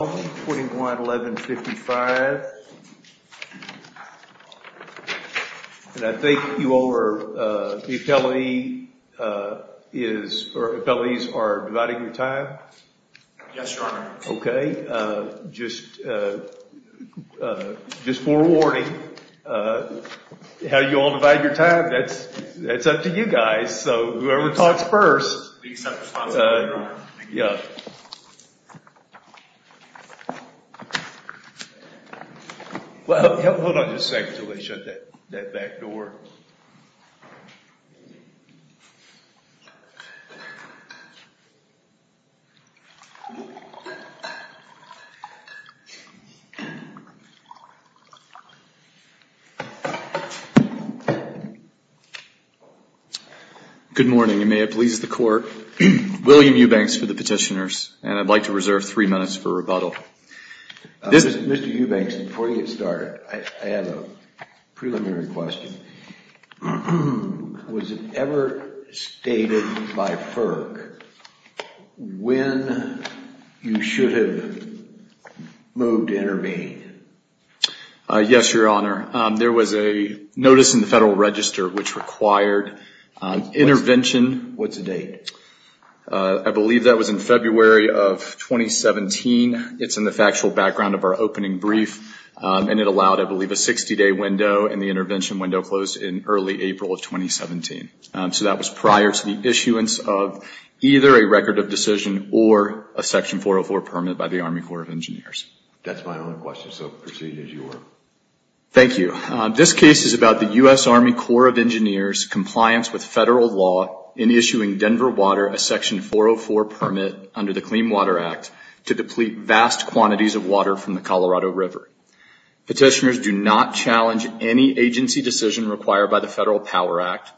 21-1155. And I think you all are, the appellees are dividing your time. Yes, your honor. Okay, just just for warning, how you all divide your time, that's up to you guys. So whoever talks first. Yeah. Well, hold on just a second until they shut that back door. Good morning. You may be seated. William Eubanks for the petitioners, and I'd like to reserve three minutes for rebuttal. Mr. Eubanks, before you get started, I have a preliminary question. Was it ever stated by FERC when you should have moved to intervene? Yes, your honor. There was a federal register which required intervention. What's the date? I believe that was in February of 2017. It's in the factual background of our opening brief, and it allowed, I believe, a 60-day window, and the intervention window closed in early April of 2017. So that was prior to the issuance of either a record of decision or a section 404 permit by the Army Corps of Engineers. That's my only question, so proceed as you were. Thank you. This case is about the U.S. Army Corps of Engineers compliance with federal law in issuing Denver Water a section 404 permit under the Clean Water Act to deplete vast quantities of water from the Colorado River. Petitioners do not challenge any agency decision required by the Federal Power Act,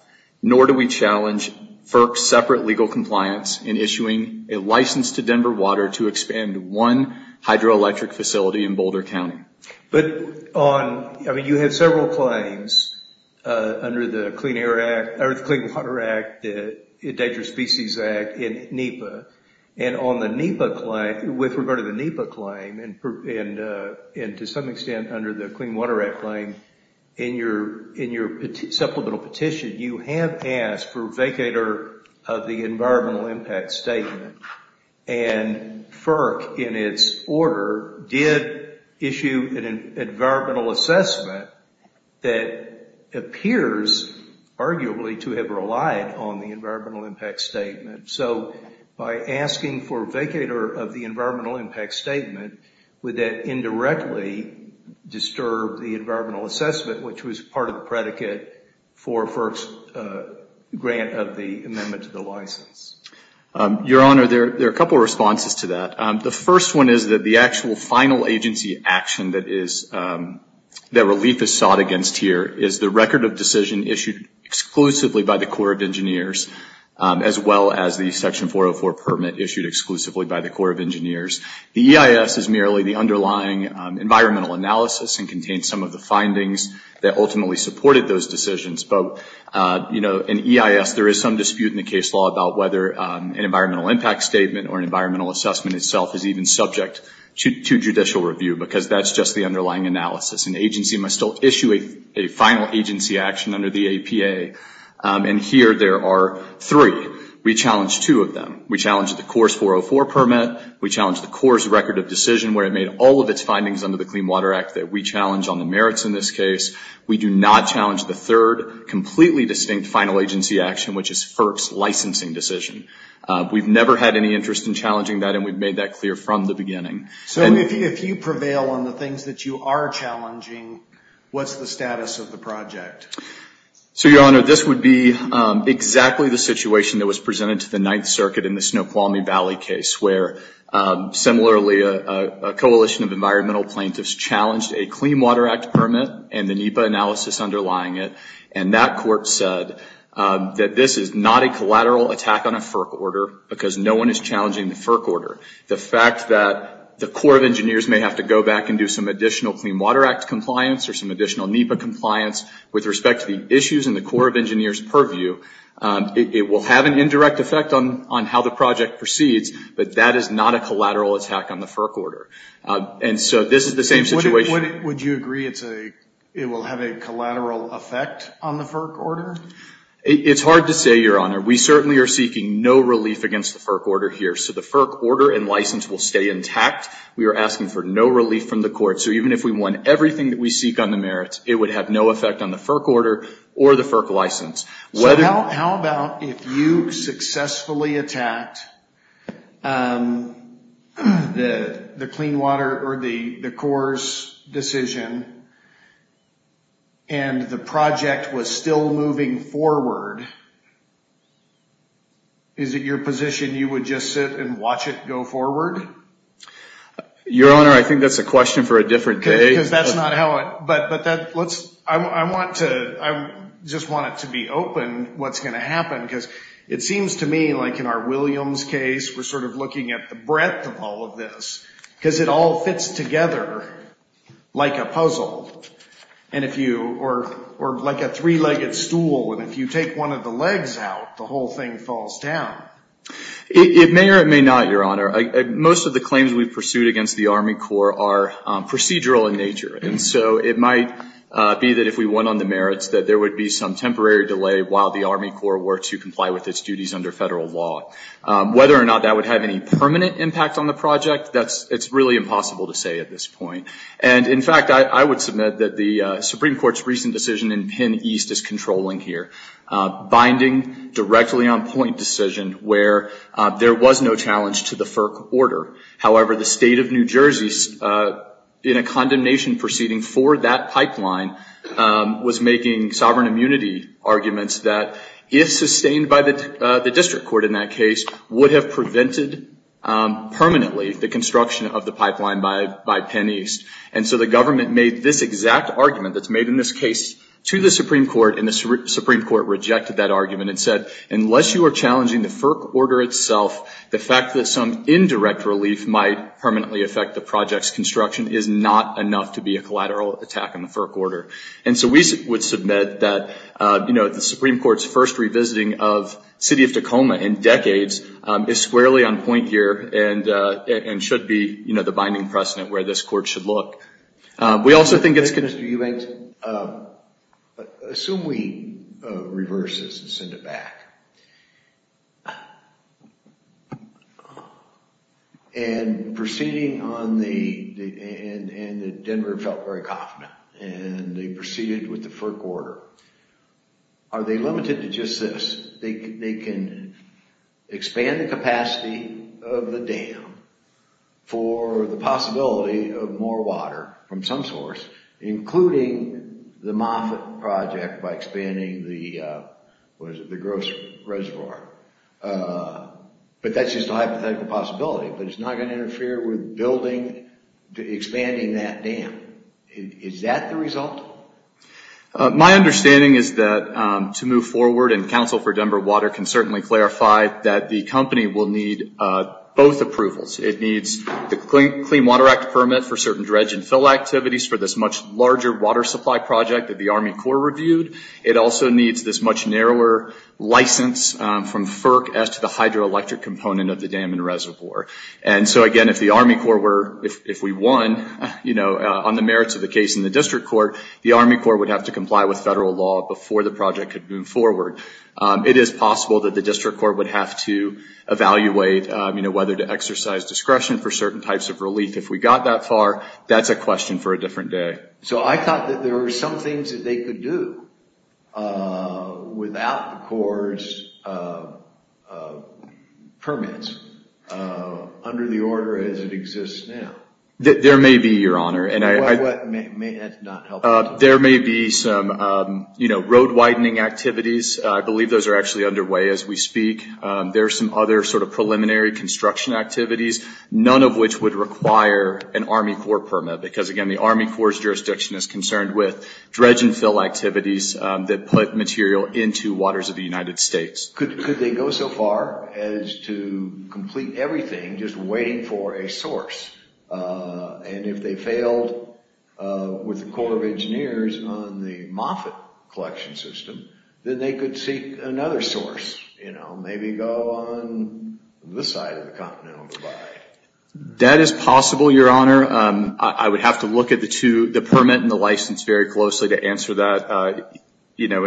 nor do we challenge FERC's separate legal compliance in issuing a license to Denver Water to expand one hydroelectric facility in Boulder County. But on, I mean, you have several claims under the Clean Air Act, or the Clean Water Act, the Endangered Species Act in NEPA, and on the NEPA claim, with regard to the NEPA claim, and to some extent under the Clean Water Act claim, in your supplemental petition, you have asked for vacator of the environmental impact statement, and FERC, in its order, did issue an environmental assessment that appears, arguably, to have relied on the environmental impact statement. So by asking for vacator of the environmental impact statement, would that indirectly disturb the environmental assessment, which was part of the predicate for FERC's grant of the amendment to the license? Your Honor, there are a couple of responses to that. The first one is that the actual final agency action that is, that relief is sought against here, is the record of decision issued exclusively by the Corps of Engineers, as well as the Section 404 permit issued exclusively by the Corps of Engineers. The EIS is merely the underlying environmental analysis and contains some of the findings that ultimately supported those decisions. But, you know, in EIS, there is some dispute in the case law about whether an environmental impact statement or an environmental assessment itself is even subject to judicial review, because that's just the underlying analysis. An agency must still issue a final agency action under the APA, and here there are three. We challenge two of them. We challenge the Corps' 404 permit. We challenge the Corps' record of decision, where it made all of its findings under the Clean Water Act that we challenge on the merits in this case. We do not challenge the third, completely distinct final agency action, which is FERC's licensing decision. We've never had any interest in challenging that, and we've made that clear from the beginning. So if you prevail on the things that you are challenging, what's the status of the project? So, Your Honor, this would be exactly the situation that was presented to the Ninth Circuit in the Snoqualmie Valley case, where, similarly, a coalition of environmental plaintiffs challenged a Clean Water Act permit and the NEPA analysis underlying it, and that court said that this is not a collateral attack on a FERC order, because no one is challenging the FERC order. The fact that the Corps of Engineers may have to go back and do some additional Clean Water Act compliance or some additional NEPA compliance with respect to the issues in the Corps of Engineers' purview, it will have an indirect effect on how the project proceeds, but that is not a collateral attack on the FERC order. And so this is the same situation. Would you agree it will have a collateral effect on the FERC order? It's hard to say, Your Honor. We certainly are seeking no relief against the FERC order here. So the FERC order and license will stay intact. We are asking for no relief from the court. So even if we won everything that we seek on the merits, it would have no effect on the FERC order or the FERC license. So how about if you successfully attacked the Clean Water or the Corps' decision and the project was still moving forward, is it your position you would just sit and watch it go forward? Your Honor, I think that's a question for a different day. I just want it to be open what's going to happen because it seems to me like in our Williams case, we're sort of looking at the breadth of all of this because it all fits together like a puzzle or like a three-legged stool. And if you take one of the legs out, the whole thing falls down. It may or it may not, Your Honor. Most of the claims we've pursued against the Army And so it might be that if we won on the merits, that there would be some temporary delay while the Army Corps were to comply with its duties under federal law. Whether or not that would have any permanent impact on the project, it's really impossible to say at this point. And in fact, I would submit that the Supreme Court's recent decision in Penn East is controlling here, binding directly on point decision where there was no challenge to the for that pipeline was making sovereign immunity arguments that if sustained by the district court in that case, would have prevented permanently the construction of the pipeline by Penn East. And so the government made this exact argument that's made in this case to the Supreme Court and the Supreme Court rejected that argument and said, unless you are challenging the FERC order itself, the fact that some indirect relief might permanently affect the project's collateral attack on the FERC order. And so we would submit that, you know, the Supreme Court's first revisiting of City of Tacoma in decades is squarely on point here and should be, you know, the binding precedent where this court should look. We also think it's going to... Mr. Eubanks, assume we reverse this and send it back. And proceeding on the, and Denver felt very confident and they proceeded with the FERC order. Are they limited to just this? They can expand the capacity of the dam for the possibility of more water from some source, including the Moffitt project by expanding the, what is it, the Gross Reservoir. But that's just a hypothetical possibility, but it's not going to interfere with building, expanding that dam. Is that the result? My understanding is that to move forward and counsel for Denver Water can certainly clarify that the company will need both approvals. It needs the Clean Water Act permit for certain dredge and fill activities for this much larger water supply project that the Army Corps reviewed. It also needs this much narrower license from FERC as to the hydroelectric component of the dam and reservoir. And so again, if the Army Corps were, if we won, you know, on the merits of the case in the district court, the Army Corps would have to comply with federal law before the project could move forward. It is possible that the district court would have to evaluate, you know, whether to exercise discretion for certain types of relief. If we got that far, that's a question for a different day. So I thought that there were some things that they could do without the Corps' permits under the order as it exists now. There may be, Your Honor, and I... What? There may be some, you know, road widening activities. I believe those are actually underway as we speak. There are some other sort of preliminary construction activities, none of which would require an Army Corps permit. Because again, the Army Corps' jurisdiction is concerned with dredge and fill activities that put material into waters of the United States. Could they go so far as to complete everything just waiting for a source? And if they failed with the Corps of Engineers on the Moffitt collection system, then they could seek another source. You know, maybe go on this side of the continent. That is possible, Your Honor. I would have to look at the two, the permit and the license, very closely to answer that, you know,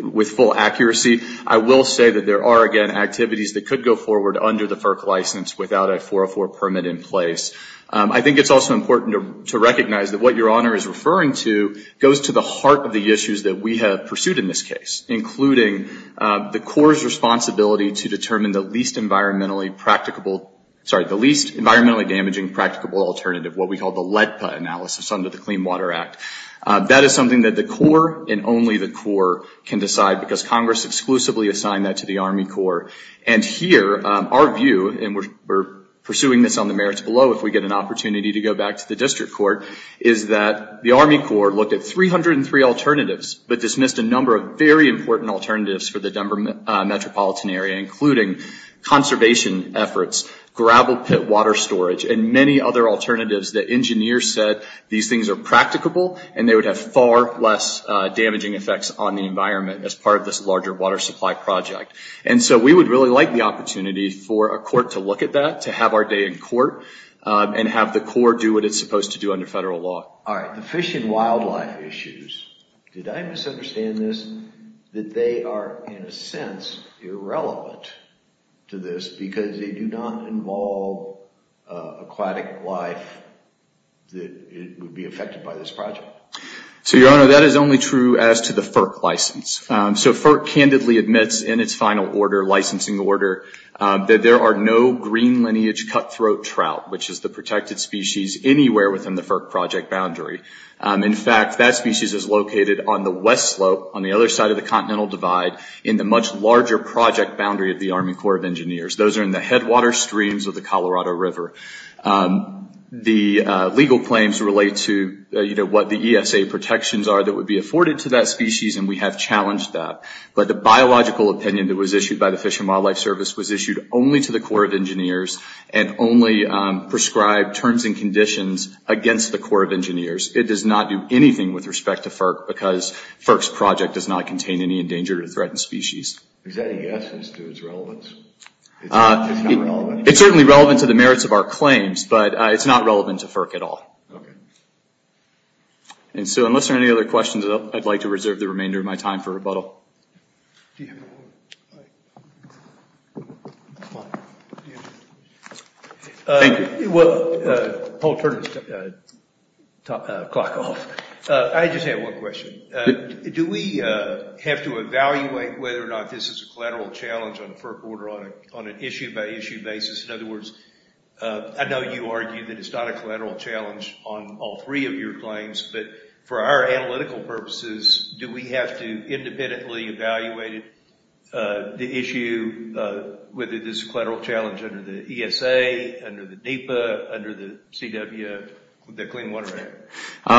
with full accuracy. I will say that there are, again, activities that could go forward under the FERC license without a 404 permit in place. I think it's also important to recognize that what Your Honor is referring to goes to the issues that we have pursued in this case, including the Corps' responsibility to determine the least environmentally practicable, sorry, the least environmentally damaging practicable alternative, what we call the LEDPA analysis under the Clean Water Act. That is something that the Corps and only the Corps can decide because Congress exclusively assigned that to the Army Corps. And here, our view, and we're pursuing this on the merits below if we get an opportunity to go back to the district court, is that the Army Corps looked at 303 alternatives, but dismissed a number of very important alternatives for the Denver metropolitan area, including conservation efforts, gravel pit water storage, and many other alternatives that engineers said these things are practicable and they would have far less damaging effects on the environment as part of this larger water supply project. And so we would really like the opportunity for a court to look at that, to have our day in court, and have the Corps do what it's supposed to do under federal law. All right. The fish and wildlife issues, did I misunderstand this, that they are in a sense irrelevant to this because they do not involve aquatic life that would be affected by this project? So Your Honor, that is only true as to the FERC license. So FERC candidly admits in its final order, licensing order, that there are no green lineage cutthroat trout, which is the protected species anywhere within the FERC project boundary. In fact, that species is located on the west slope on the other side of the continental divide in the much larger project boundary of the Army Corps of Engineers. Those are in the headwater streams of the Colorado River. The legal claims relate to what the ESA protections are that would be afforded to that species, and we have challenged that. But the biological opinion that was issued by the Fish and Wildlife Service was issued only to the Corps of Engineers, and only prescribed terms and conditions against the Corps of Engineers. It does not do anything with respect to FERC, because FERC's project does not contain any endangered or threatened species. Is that a yes as to its relevance? It's not relevant? It's certainly relevant to the merits of our claims, but it's not relevant to FERC at all. Okay. And so unless there are any other questions, I'd like to reserve the remainder of my time for rebuttal. Thank you. Well, Paul, turn the clock off. I just have one question. Do we have to evaluate whether or not this is a collateral challenge on a FERC order on an issue-by-issue basis? In other words, I know you argue that it's not a collateral challenge on all three of your claims, but for our analytical purposes, do we have to independently evaluate the issue, whether this is a collateral challenge under the ESA, under the NEPA, under the CW, the Clean Water Act?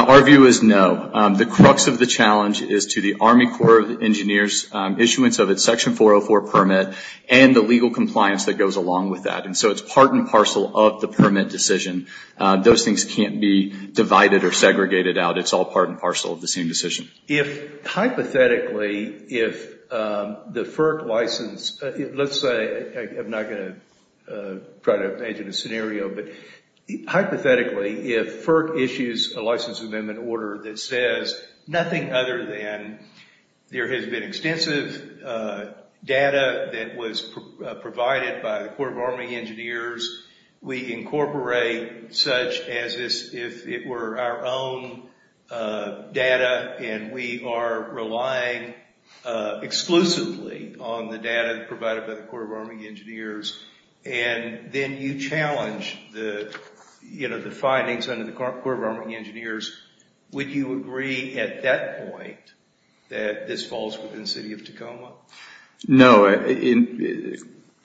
Our view is no. The crux of the challenge is to the Army Corps of Engineers issuance of its Section 404 permit and the legal compliance that goes along with that. And so it's part and parcel of the permit decision. Those things can't be divided or segregated out. It's all part and parcel of the same decision. If hypothetically, if the FERC license, let's say, I'm not going to try to imagine a scenario, but hypothetically, if FERC issues a license amendment order that says nothing other than there has been extensive data that was provided by the Corps of Army Engineers, we incorporate such as if it were our own data and we are relying exclusively on the data provided by the Corps of Army Engineers, and then you challenge the findings under the Corps of Army Engineers, would you agree at that point that this falls within the City of Tacoma? No.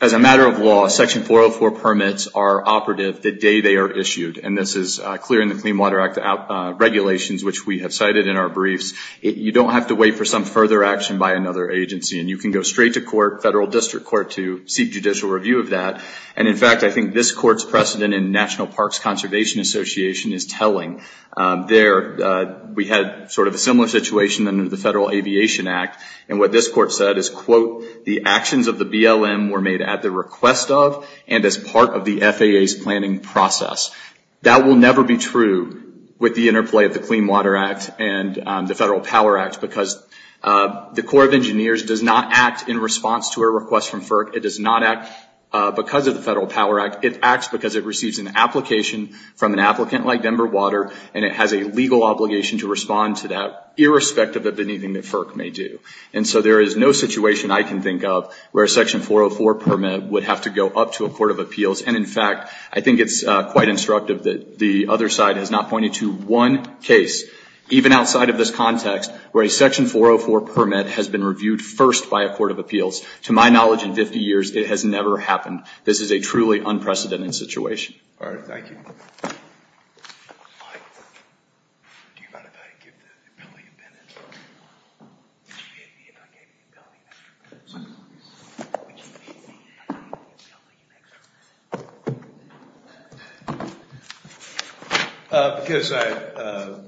As a matter of law, Section 404 permits are operative the day they are issued. And this is clear in the Clean Water Act regulations, which we have cited in our briefs. You don't have to wait for some further action by another agency. And you can go straight to court, federal district court, to seek judicial review of that. And in fact, I think this court's precedent in National Parks Conservation Association is telling. There, we had sort of a similar situation under the Federal Aviation Act. And what this court said is, quote, the actions of the BLM were made at the request of, and as part of the FAA's planning process. That will never be true with the interplay of the Clean Water Act and the Federal Power Act, because the Corps of Engineers does not act in response to a request from FERC. It does not act because of the Federal Power Act. It acts because it receives an application from an applicant like Denver Water, and it has a legal obligation to respond to that irrespective of anything that FERC may do. So there is no situation I can think of where a Section 404 permit would have to go up to a court of appeals. And in fact, I think it's quite instructive that the other side has not pointed to one case, even outside of this context, where a Section 404 permit has been reviewed first by a court of appeals. To my knowledge, in 50 years, it has never happened. This is a truly unprecedented situation. All right. Thank you. Because I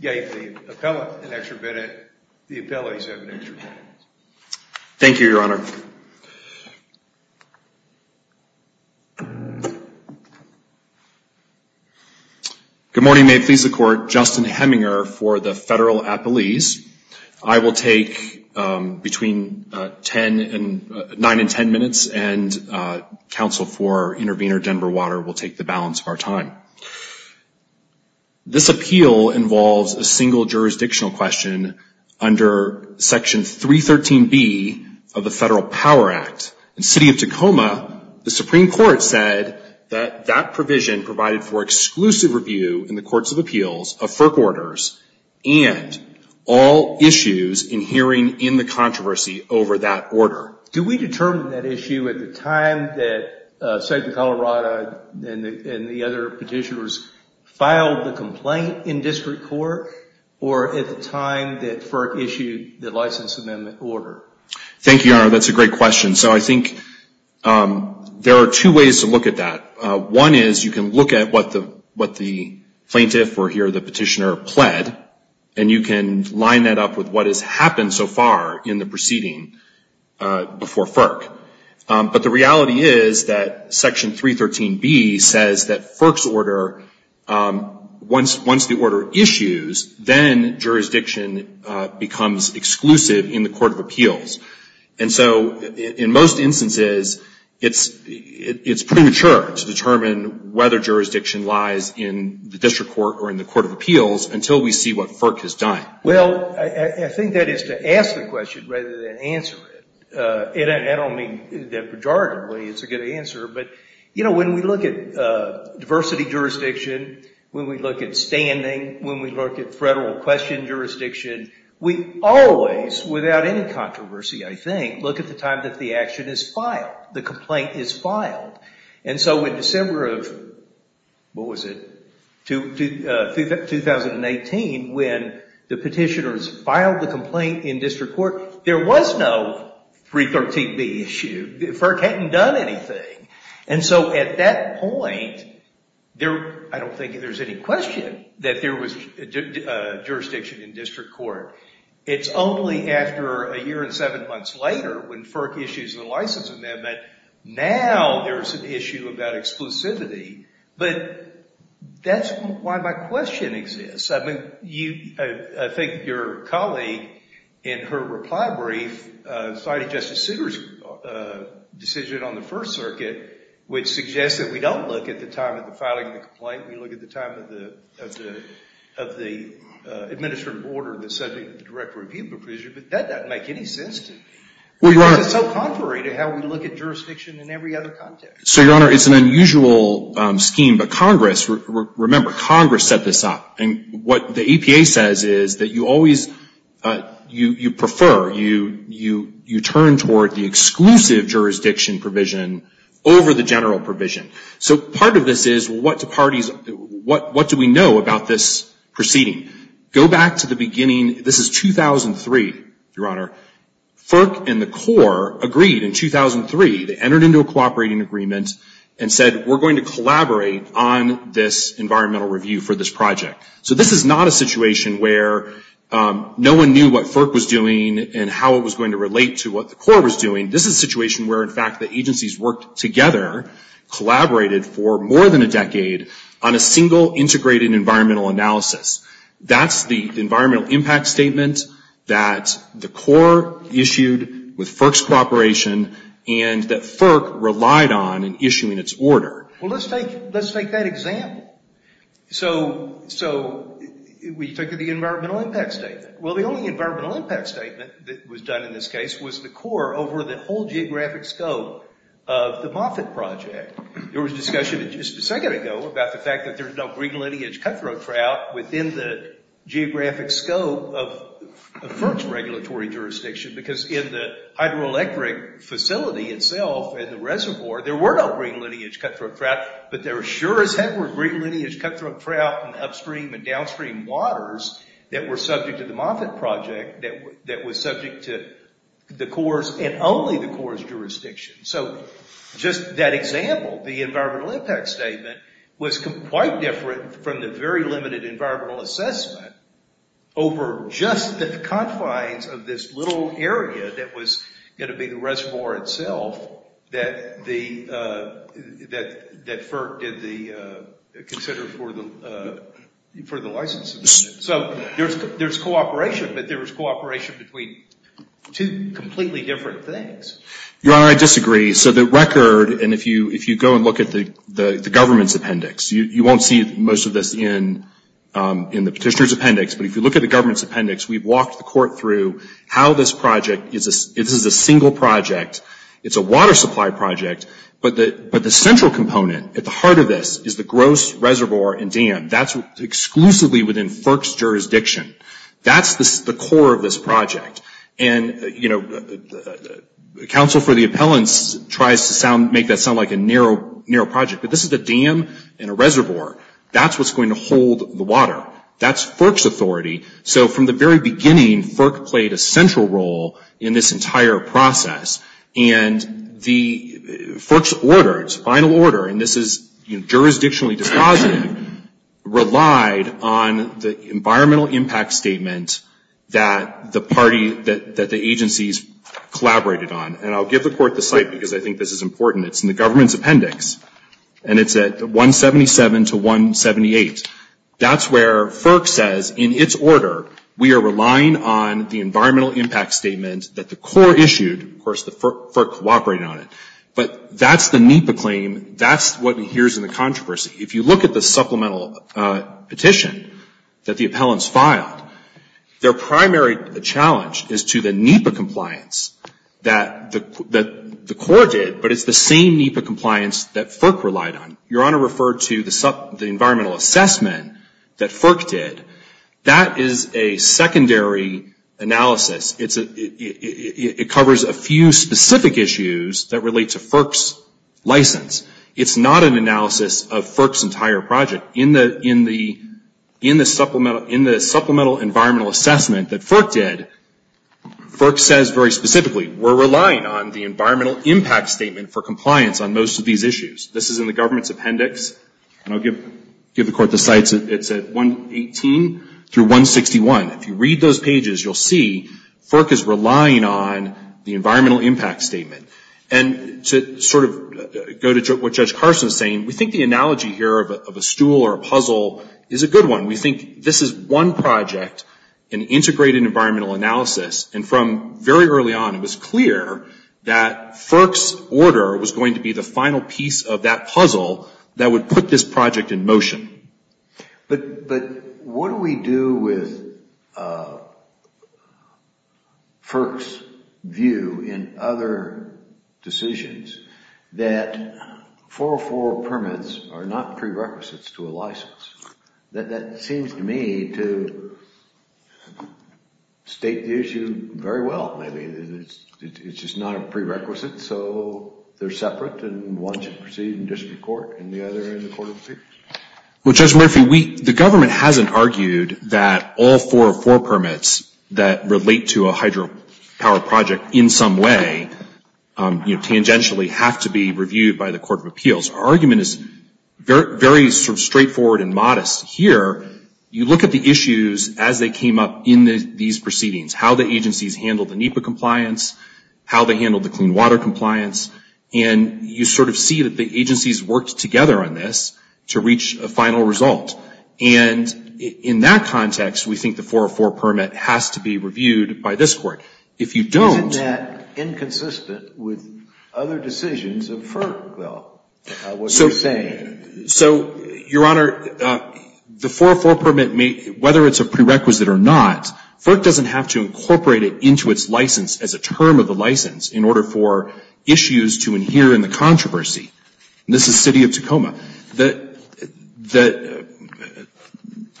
gave the appellate an extra minute, the appellate has an extra minute. Thank you, Your Honor. Good morning. May it please the Court. Justin Hemminger for the Federal Appellees. I will take between 9 and 10 minutes, and counsel for intervener, Denver Water, will take the balance of our time. This appeal involves a single jurisdictional question under Section 313B of the Federal Power Act. In the city of Tacoma, the Supreme Court said that that provision provided for exclusive review in the courts of appeals of FERC orders and all issues in hearing in the controversy over that order. Do we determine that issue at the time that Secretary Colorado and the other petitioners filed the complaint in district court or at the time that FERC issued the license amendment order? Thank you, Your Honor. That's a great question. I think there are two ways to look at that. One is you can look at what the plaintiff or here the petitioner pled, and you can line that up with what has happened so far in the proceeding before FERC. But the reality is that Section 313B says that FERC's order, once the order issues, and so in most instances, it's premature to determine whether jurisdiction lies in the district court or in the court of appeals until we see what FERC has done. Well, I think that is to ask the question rather than answer it. I don't mean that pejoratively it's a good answer, but when we look at diversity jurisdiction, when we look at standing, when we look at federal question jurisdiction, we always, without any controversy, I think, look at the time that the action is filed, the complaint is filed. And so in December of, what was it, 2018, when the petitioners filed the complaint in district court, there was no 313B issue. FERC hadn't done anything. And so at that point, I don't think there's any question that there was jurisdiction in district court. It's only after a year and seven months later when FERC issues the license amendment, now there's an issue about exclusivity. But that's why my question exists. I mean, I think your colleague in her reply brief cited Justice Souter's decision on the First Circuit, which suggests that we don't look at the time of the filing of the complaint, we look at the time of the administrative order, the subject of the Direct Review Provision, but that doesn't make any sense to me. It's so contrary to how we look at jurisdiction in every other context. So, Your Honor, it's an unusual scheme, but Congress, remember, Congress set this up. And what the EPA says is that you always, you prefer, you turn toward the exclusive jurisdiction provision over the general provision. So part of this is what do parties, what do we know about this proceeding? Go back to the beginning. This is 2003, Your Honor. FERC and the CORE agreed in 2003, they entered into a cooperating agreement and said, we're going to collaborate on this environmental review for this project. So this is not a situation where no one knew what FERC was doing and how it was going to relate to what the CORE was doing. This is a situation where, in fact, the agencies worked together, collaborated for more than a decade on a single integrated environmental analysis. That's the environmental impact statement that the CORE issued with FERC's cooperation and that FERC relied on in issuing its order. Well, let's take, let's take that example. So, so we took the environmental impact statement. Well, the only environmental impact statement that was done in this case was the CORE over the whole geographic scope of the Moffitt Project. There was a discussion just a second ago about the fact that there's no green lineage cutthroat trout within the geographic scope of FERC's regulatory jurisdiction because in the hydroelectric facility itself and the reservoir, there were no green lineage cutthroat trout, but there sure as heck were green lineage cutthroat trout in the upstream and downstream waters that were subject to the Moffitt Project that, that was subject to the CORE's and only the CORE's jurisdiction. So just that example, the environmental impact statement was quite different from the very limited environmental assessment over just the confines of this little area that was going to be the reservoir itself that the, that, that FERC did the consider for the, for the licensing. So there's, there's cooperation, but there was cooperation between two completely different things. Your Honor, I disagree. So the record, and if you, if you go and look at the, the, the government's appendix, you won't see most of this in, in the petitioner's appendix, but if you look at the government's appendix, we've walked the court through how this project is a, this is a single project. It's a water supply project, but the, but the central component at the heart of this is the gross reservoir and dam. That's exclusively within FERC's jurisdiction. That's the CORE of this project. And, you know, the counsel for the appellants tries to sound, make that sound like a narrow, narrow project, but this is a dam and a reservoir. That's what's going to hold the water. That's FERC's authority. So from the very beginning, FERC played a central role in this entire process. And the, FERC's order, its final order, and this is jurisdictionally dispositive, relied on the environmental impact statement that the party, that, that the agencies collaborated on. And I'll give the court the site because I think this is important. It's in the government's appendix. And it's at 177 to 178. That's where FERC says in its order, we are relying on the environmental impact statement that the CORE issued. Of course, the FERC cooperated on it, but that's the NEPA claim. That's what we hear is in the controversy. If you look at the supplemental petition that the appellants filed, their primary challenge is to the NEPA compliance that the CORE did, but it's the same NEPA compliance that FERC relied on. Your Honor referred to the environmental assessment that FERC did. That is a secondary analysis. It's a, it covers a few specific issues that relate to FERC's license. It's not an analysis of FERC's entire project. In the, in the, in the supplemental, in the supplemental environmental assessment that FERC did, FERC says very specifically, we're relying on the environmental impact statement for compliance on most of these issues. This is in the government's appendix. And I'll give, give the court the sites. It's at 118 through 161. If you read those pages, you'll see FERC is relying on the environmental impact statement. And to sort of go to what Judge Carson is saying, we think the analogy here of a stool or a puzzle is a good one. We think this is one project in integrated environmental analysis. And from very early on, it was clear that FERC's order was going to be the final piece of that puzzle that would put this project in motion. But, but what do we do with FERC's view in other decisions that 404 permits are not prerequisites to a license? That, that seems to me to state the issue very well. Maybe it's, it's just not a prerequisite, so they're separate and one should proceed in district court and the other in the court of appeals? Well, Judge Murphy, we, the government hasn't argued that all 404 permits that relate to a hydropower project in some way, you know, tangentially have to be reviewed by the court of appeals. Our argument is very sort of straightforward and modest. Here, you look at the issues as they came up in these proceedings, how the agencies handled the NEPA compliance, how they handled the clean water compliance, and you sort of the agencies worked together on this to reach a final result. And in that context, we think the 404 permit has to be reviewed by this court. If you don't... Isn't that inconsistent with other decisions of FERC, though, what you're saying? So, Your Honor, the 404 permit may, whether it's a prerequisite or not, FERC doesn't have to incorporate it into its license as a term of the license in order for issues to adhere in the controversy. And this is City of Tacoma. But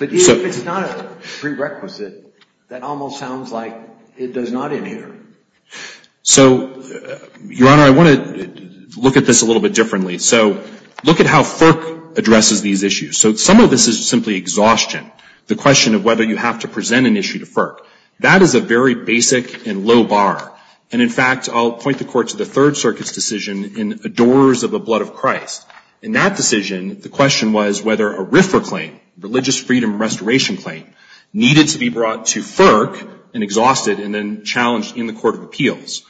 if it's not a prerequisite, that almost sounds like it does not adhere. So, Your Honor, I want to look at this a little bit differently. So look at how FERC addresses these issues. So some of this is simply exhaustion, the question of whether you have to present an issue to FERC. That is a very basic and low bar. And in fact, I'll point the court to the Third Circuit's decision in Adorers of the Blood of Christ. In that decision, the question was whether a RFRA claim, Religious Freedom Restoration claim, needed to be brought to FERC and exhausted and then challenged in the Court of Appeals.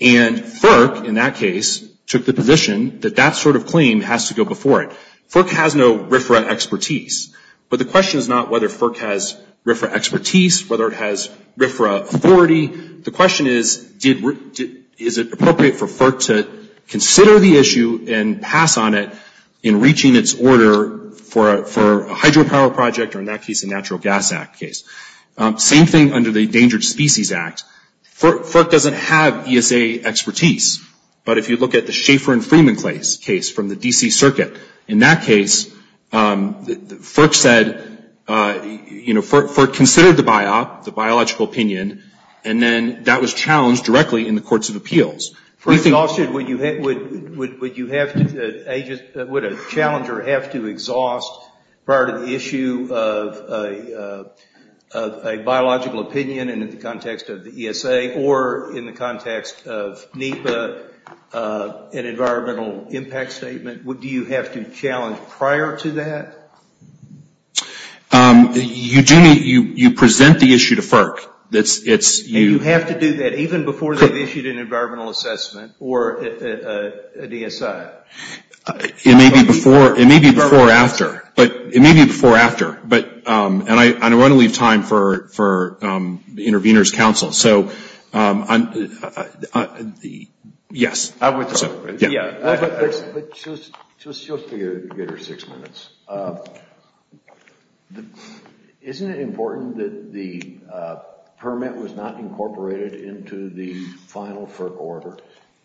And FERC, in that case, took the position that that sort of claim has to go before it. FERC has no RFRA expertise, but the question is not whether FERC has RFRA expertise, whether it has RFRA authority. The question is, is it appropriate for FERC to consider the issue and pass on it in reaching its order for a hydropower project, or in that case, a Natural Gas Act case? Same thing under the Endangered Species Act. FERC doesn't have ESA expertise. But if you look at the Schaefer and Freeman case from the D.C. Circuit, in that case, FERC said, you know, FERC considered the biop, the biological opinion, and then that was challenged directly in the Courts of Appeals. First of all, should, would you have to, would a challenger have to exhaust prior to the issue of a biological opinion in the context of the ESA or in the context of NEPA, an environmental impact statement? Do you have to challenge prior to that? You present the issue to FERC. And you have to do that even before they've issued an environmental assessment or a DSI? It may be before or after. But it may be before or after. But, and I don't want to leave time for the Intervenors Council. So, yes. I would, yeah. But just to give her six minutes, isn't it important that the permit was not incorporated into the final FERC order?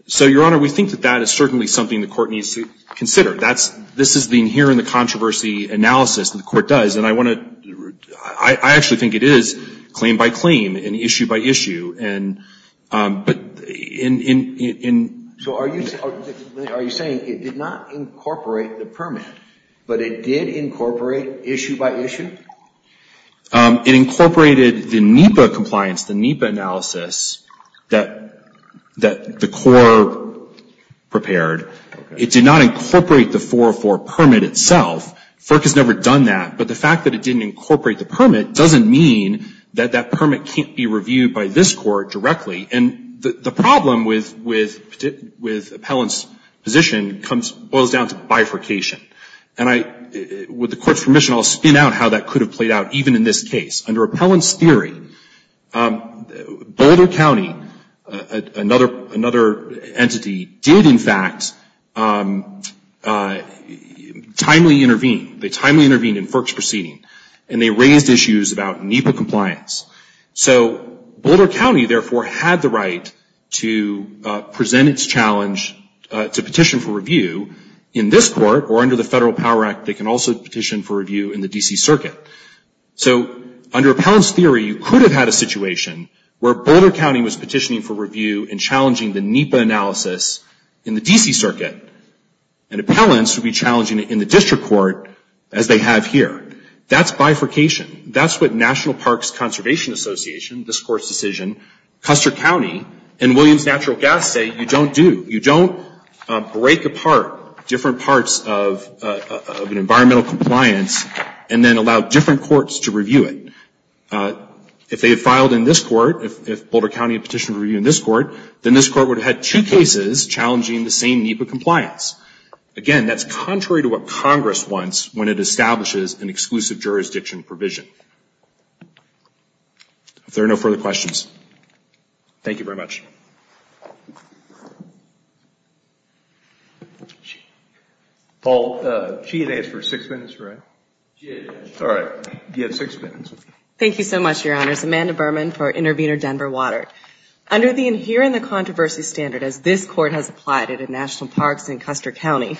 So, Your Honor, we think that that is certainly something the Court needs to consider. That's, this is the inherent controversy analysis that the Court does. And I want to, I actually think it is claim by claim and issue by issue. And, but in, in, in. So, are you, are you saying it did not incorporate the permit, but it did incorporate issue by issue? It incorporated the NEPA compliance, the NEPA analysis that, that the Court prepared. It did not incorporate the 404 permit itself. FERC has never done that. But the fact that it didn't incorporate the permit doesn't mean that that permit can't be reviewed by this Court directly. And the problem with, with, with Appellant's position comes, boils down to bifurcation. And I, with the Court's permission, I'll spin out how that could have played out even in this case. Under Appellant's theory, Boulder County, another, another entity, did, in fact, timely intervene. They timely intervened in FERC's proceeding. And they raised issues about NEPA compliance. So, Boulder County, therefore, had the right to present its challenge to petition for review in this Court, or under the Federal Power Act, they can also petition for review in the D.C. Circuit. So, under Appellant's theory, you could have had a situation where Boulder County was petitioning for review and challenging the NEPA analysis in the D.C. Circuit. And Appellant's would be challenging it in the District Court, as they have here. That's bifurcation. That's what National Parks Conservation Association, this Court's decision, Custer County, and Williams Natural Gas say you don't do. You don't break apart different parts of an environmental compliance and then allow different courts to review it. If they had filed in this Court, if Boulder County had petitioned for review in this Court, then this Court would have had two cases challenging the same NEPA compliance. Again, that's contrary to what Congress wants when it establishes an exclusive jurisdiction provision. If there are no further questions, thank you very much. Paul, she had asked for six minutes, right? She did. All right. You have six minutes. Thank you so much, Your Honors. Amanda Berman for Intervenor Denver Water. Under the inherent controversy standard as this Court has applied it at National Parks and Custer County,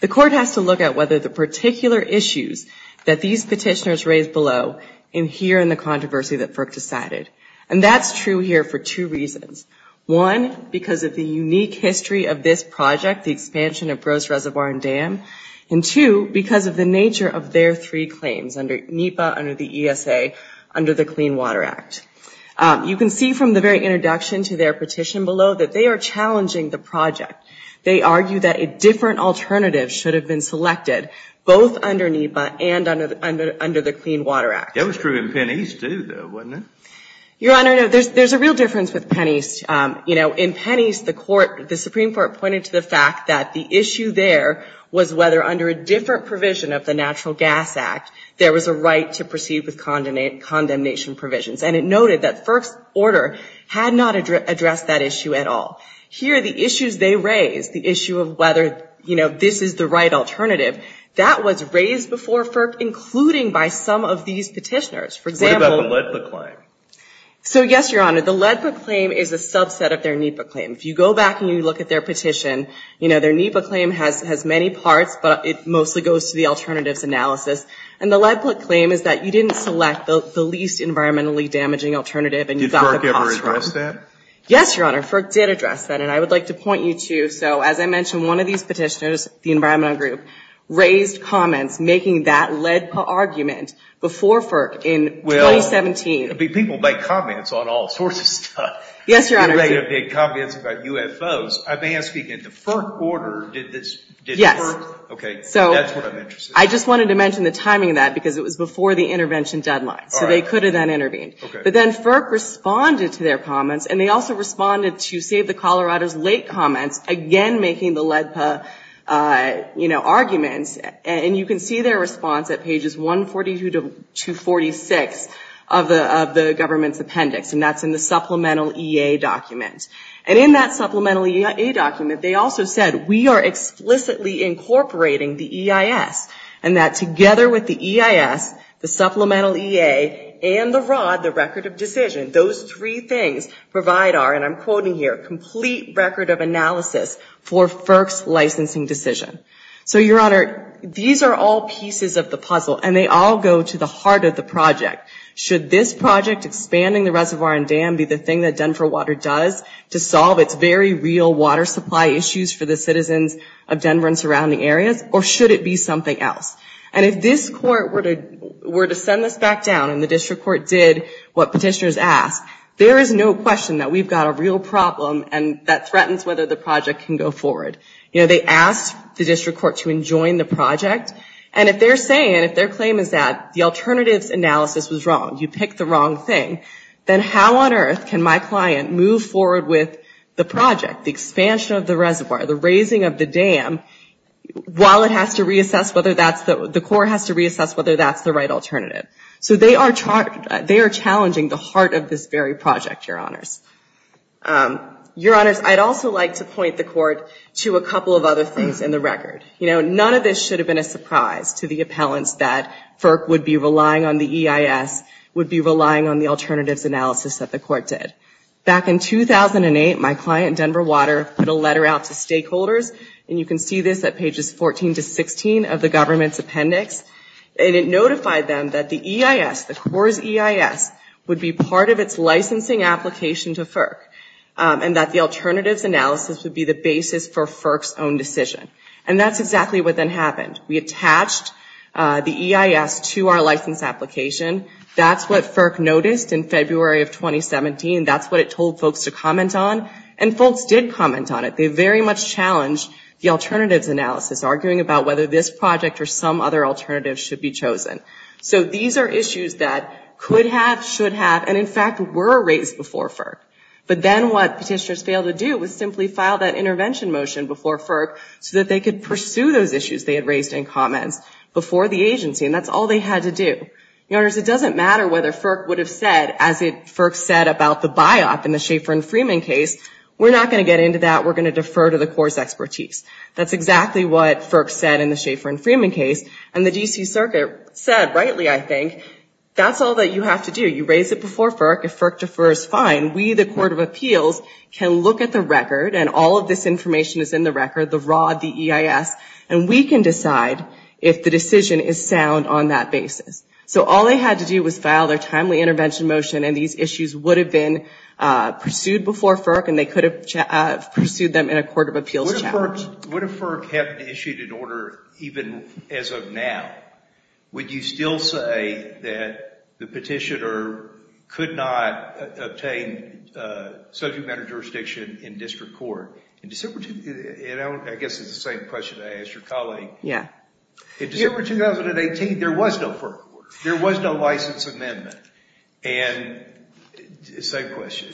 the Court has to look at whether the particular issues that these petitioners raise below adhere in the controversy that FERC decided. And that's true here for two reasons. One, because of the unique history of this project, the expansion of Grosse Reservoir and Dam. And two, because of the nature of their three claims under NEPA, under the ESA, under the Clean Water Act. You can see from the very introduction to their petition below that they are challenging the project. They argue that a different alternative should have been selected, both under NEPA and under the Clean Water Act. That was true in Penn East, too, though, wasn't it? Your Honor, there's a real difference with Penn East. In Penn East, the Supreme Court pointed to the fact that the issue there was whether under a different provision of the Natural Gas Act there was a right to proceed with condemnation provisions. And it noted that FERC's order had not addressed that issue at all. Here, the issues they raised, the issue of whether this is the right alternative, that was raised before FERC, including by some of these petitioners. For example— What about the LEDPA claim? So, yes, Your Honor, the LEDPA claim is a subset of their NEPA claim. If you go back and you look at their petition, you know, their NEPA claim has many parts, but it mostly goes to the alternatives analysis. And the LEDPA claim is that you didn't select the least environmentally damaging alternative— Did FERC ever address that? Yes, Your Honor, FERC did address that. And I would like to point you to—so, as I mentioned, one of these petitioners, the LEDPA, raised comments making that LEDPA argument before FERC in 2017. Well, people make comments on all sorts of stuff. Yes, Your Honor. They made comments about UFOs. I mean, speaking of the FERC order, did this— Yes. Okay, that's what I'm interested in. I just wanted to mention the timing of that because it was before the intervention deadline, so they could have then intervened. But then FERC responded to their comments, and they also responded to Save the And you can see their response at pages 142 to 246 of the government's appendix, and that's in the supplemental EA document. And in that supplemental EA document, they also said, we are explicitly incorporating the EIS, and that together with the EIS, the supplemental EA, and the ROD, the record of decision, those three things provide our—and I'm quoting here—complete record of analysis for FERC's licensing decision. So, Your Honor, these are all pieces of the puzzle, and they all go to the heart of the project. Should this project, expanding the reservoir and dam, be the thing that Denver Water does to solve its very real water supply issues for the citizens of Denver and surrounding areas, or should it be something else? And if this court were to send this back down, and the district court did what petitioners asked, there is no question that we've got a real problem, and that threatens whether the project can go forward. You know, they asked the district court to enjoin the project, and if they're saying, if their claim is that the alternatives analysis was wrong, you picked the wrong thing, then how on earth can my client move forward with the project, the expansion of the reservoir, the raising of the dam, while it has to reassess whether that's the—the court has to reassess whether that's the right alternative? So they are challenging the heart of this very project, Your Honors. Your Honors, I'd also like to point the court to a couple of other things in the record. You know, none of this should have been a surprise to the appellants that FERC would be relying on the EIS, would be relying on the alternatives analysis that the court did. Back in 2008, my client, Denver Water, put a letter out to stakeholders, and you can see this at pages 14 to 16 of the government's appendix, and it notified them that the EIS, the Coors EIS, would be part of its licensing application to FERC, and that the alternatives analysis would be the basis for FERC's own decision. And that's exactly what then happened. We attached the EIS to our license application. That's what FERC noticed in February of 2017. That's what it told folks to comment on, and folks did comment on it. They very much challenged the alternatives analysis, arguing about whether this project or some other alternative should be chosen. So these are issues that could have, should have, and in fact were raised before FERC. But then what petitioners failed to do was simply file that intervention motion before FERC so that they could pursue those issues they had raised in comments before the agency, and that's all they had to do. Your Honors, it doesn't matter whether FERC would have said, as FERC said about the biop in the Schaefer and Freeman case, we're not going to get into that. We're going to defer to the Coors expertise. That's exactly what FERC said in the Schaefer and Freeman case, and the D.C. Circuit said, rightly, I think, that's all that you have to do. You raise it before FERC. If FERC defers, fine. We, the Court of Appeals, can look at the record, and all of this information is in the record, the RAW, the EIS, and we can decide if the decision is sound on that basis. So all they had to do was file their timely intervention motion, and these issues would have been pursued before FERC, and they could have pursued them in a Court of Appeals challenge. Would a FERC have issued an order even as of now? Would you still say that the petitioner could not obtain subject matter jurisdiction in district court? I guess it's the same question I asked your colleague. Yeah. In December 2018, there was no FERC order. There was no license amendment. Same question.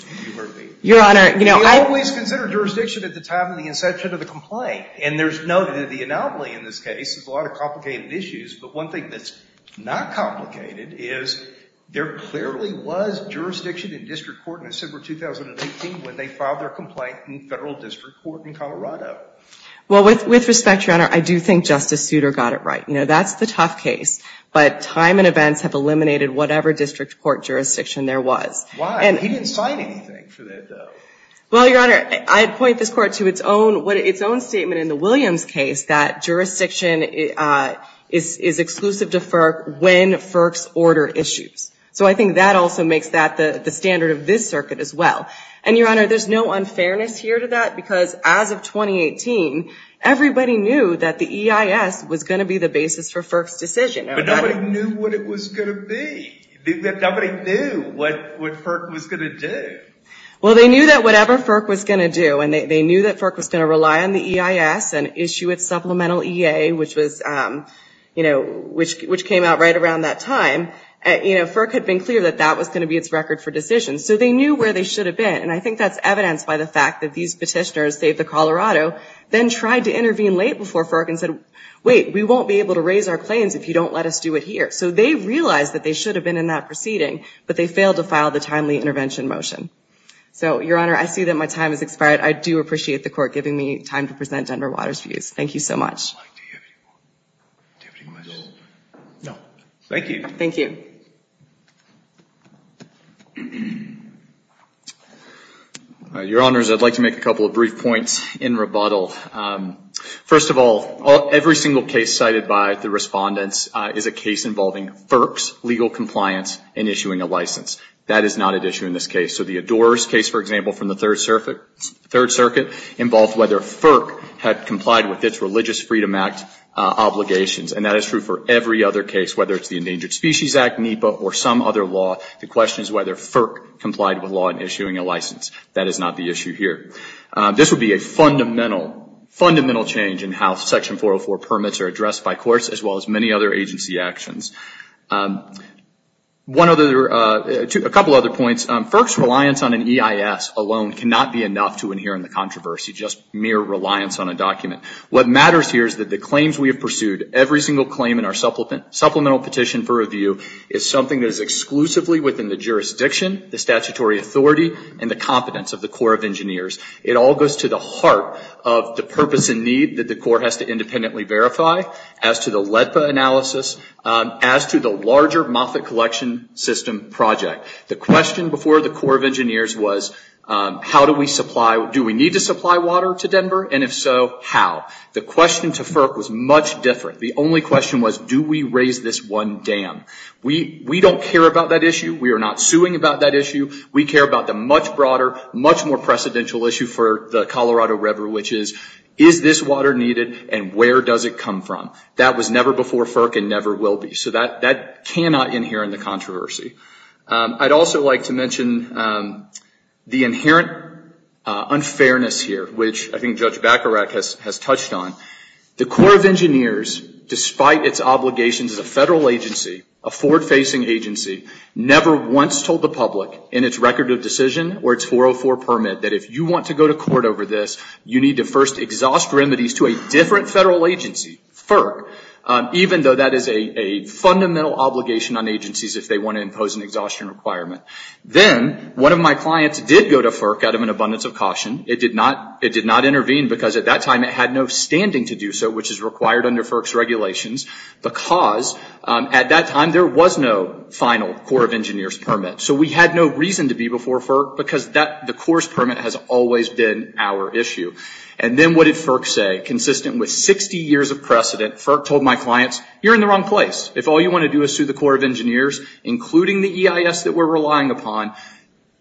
Your Honor, you know, always consider jurisdiction at the time of the inception of the complaint, and there's no anomaly in this case. There's a lot of complicated issues, but one thing that's not complicated is there clearly was jurisdiction in district court in December 2018 when they filed their complaint in federal district court in Colorado. Well, with respect, Your Honor, I do think Justice Souter got it right. You know, that's the tough case, but time and events have eliminated whatever district court jurisdiction there was. Why? He didn't sign anything for that, though. Well, Your Honor, I'd point this court to its own statement in the Williams case that jurisdiction is exclusive to FERC when FERC's order issues. So I think that also makes that the standard of this circuit as well. And Your Honor, there's no unfairness here to that because as of 2018, everybody knew that the EIS was going to be the basis for FERC's decision. But nobody knew what it was going to be. Nobody knew what FERC was going to do. Well, they knew that whatever FERC was going to do, and they knew that FERC was going to rely on the EIS and issue its supplemental EA, which was, you know, which came out right around that time. You know, FERC had been clear that that was going to be its record for decisions. So they knew where they should have been. And I think that's evidenced by the fact that these petitioners, save the Colorado, then tried to intervene late before FERC and said, wait, we won't be able to raise our claims if you don't let us do it here. So they realized that they should have been in that proceeding, but they failed to file the timely intervention motion. So, Your Honor, I see that my time has expired. I do appreciate the court giving me time to present Denver Water's views. Thank you so much. No, thank you. Thank you. Your Honors, I'd like to make a couple of brief points in rebuttal. First of all, every single case cited by the respondents is a case involving FERC's legal compliance in issuing a license. That is not an issue in this case. So the Adores case, for example, from the Third Circuit involved whether FERC had complied with its Religious Freedom Act obligations. And that is true for every other case, whether it's the Endangered Species Act, NEPA, or some other law. The question is whether FERC complied with law in issuing a license. That is not the issue here. This would be a fundamental, fundamental change in how Section 404 permits are addressed by courts, as well as many other agency actions. A couple other points. FERC's reliance on an EIS alone cannot be enough to inherit the controversy, just mere reliance on a document. What matters here is that the claims we have pursued, every single claim in our supplemental petition for review, is something that is exclusively within the jurisdiction, the statutory authority, and the competence of the Corps of Engineers. It all goes to the heart of the purpose and need that the Corps has to independently verify, as to the LEDPA analysis, as to the larger Moffitt Collection System project. The question before the Corps of Engineers was, how do we supply? Do we need to supply water to Denver? And if so, how? The question to FERC was much different. The only question was, do we raise this one dam? We don't care about that issue. We are not suing about that issue. We care about the much broader, much more precedential issue for the Colorado River, which is, is this water needed, and where does it come from? That was never before FERC and never will be. So that cannot inherit the controversy. I'd also like to mention the inherent unfairness here, which I think Judge Bacharach has touched on. The Corps of Engineers, despite its obligations as a federal agency, a forward-facing agency, never once told the public in its record of decision, or its 404 permit, that if you want to go to court over this, you need to first exhaust remedies to a different federal agency, FERC, even though that is a fundamental obligation on agencies if they want to impose an exhaustion requirement. Then, one of my clients did go to FERC out of an abundance of caution. It did not intervene because at that time it had no standing to do so, which is required under FERC's regulations, because at that time there was no final Corps of Engineers permit. So we had no reason to be before FERC because the Corps permit has always been our issue. And then what did FERC say? Consistent with 60 years of precedent, FERC told my clients, you're in the wrong place. If all you want to do is sue the Corps of Engineers, including the EIS that we're relying upon,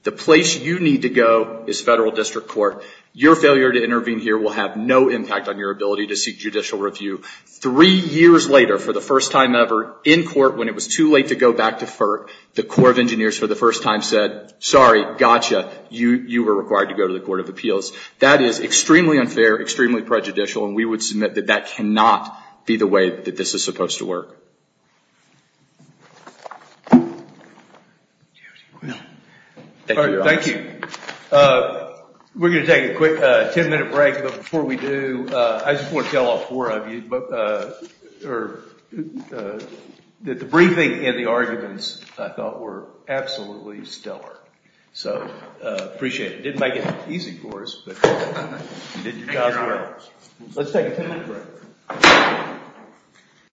the place you need to go is federal district court. Your failure to intervene here will have no impact on your ability to seek judicial review. Three years later, for the first time ever, in court when it was too late to go back to FERC, the Corps of Engineers for the first time said, sorry, gotcha, you were required to go to the Court of Appeals. That is extremely unfair, extremely prejudicial, and we would submit that that cannot be the way that this is supposed to work. Do you have any questions? Thank you, Your Honor. Thank you. We're going to take a quick 10-minute break, but before we do, I just want to tell all four of you that the briefing and the arguments I thought were absolutely stellar. So I appreciate it. It didn't make it easy for us, but you did your job well. Let's take a 10-minute break.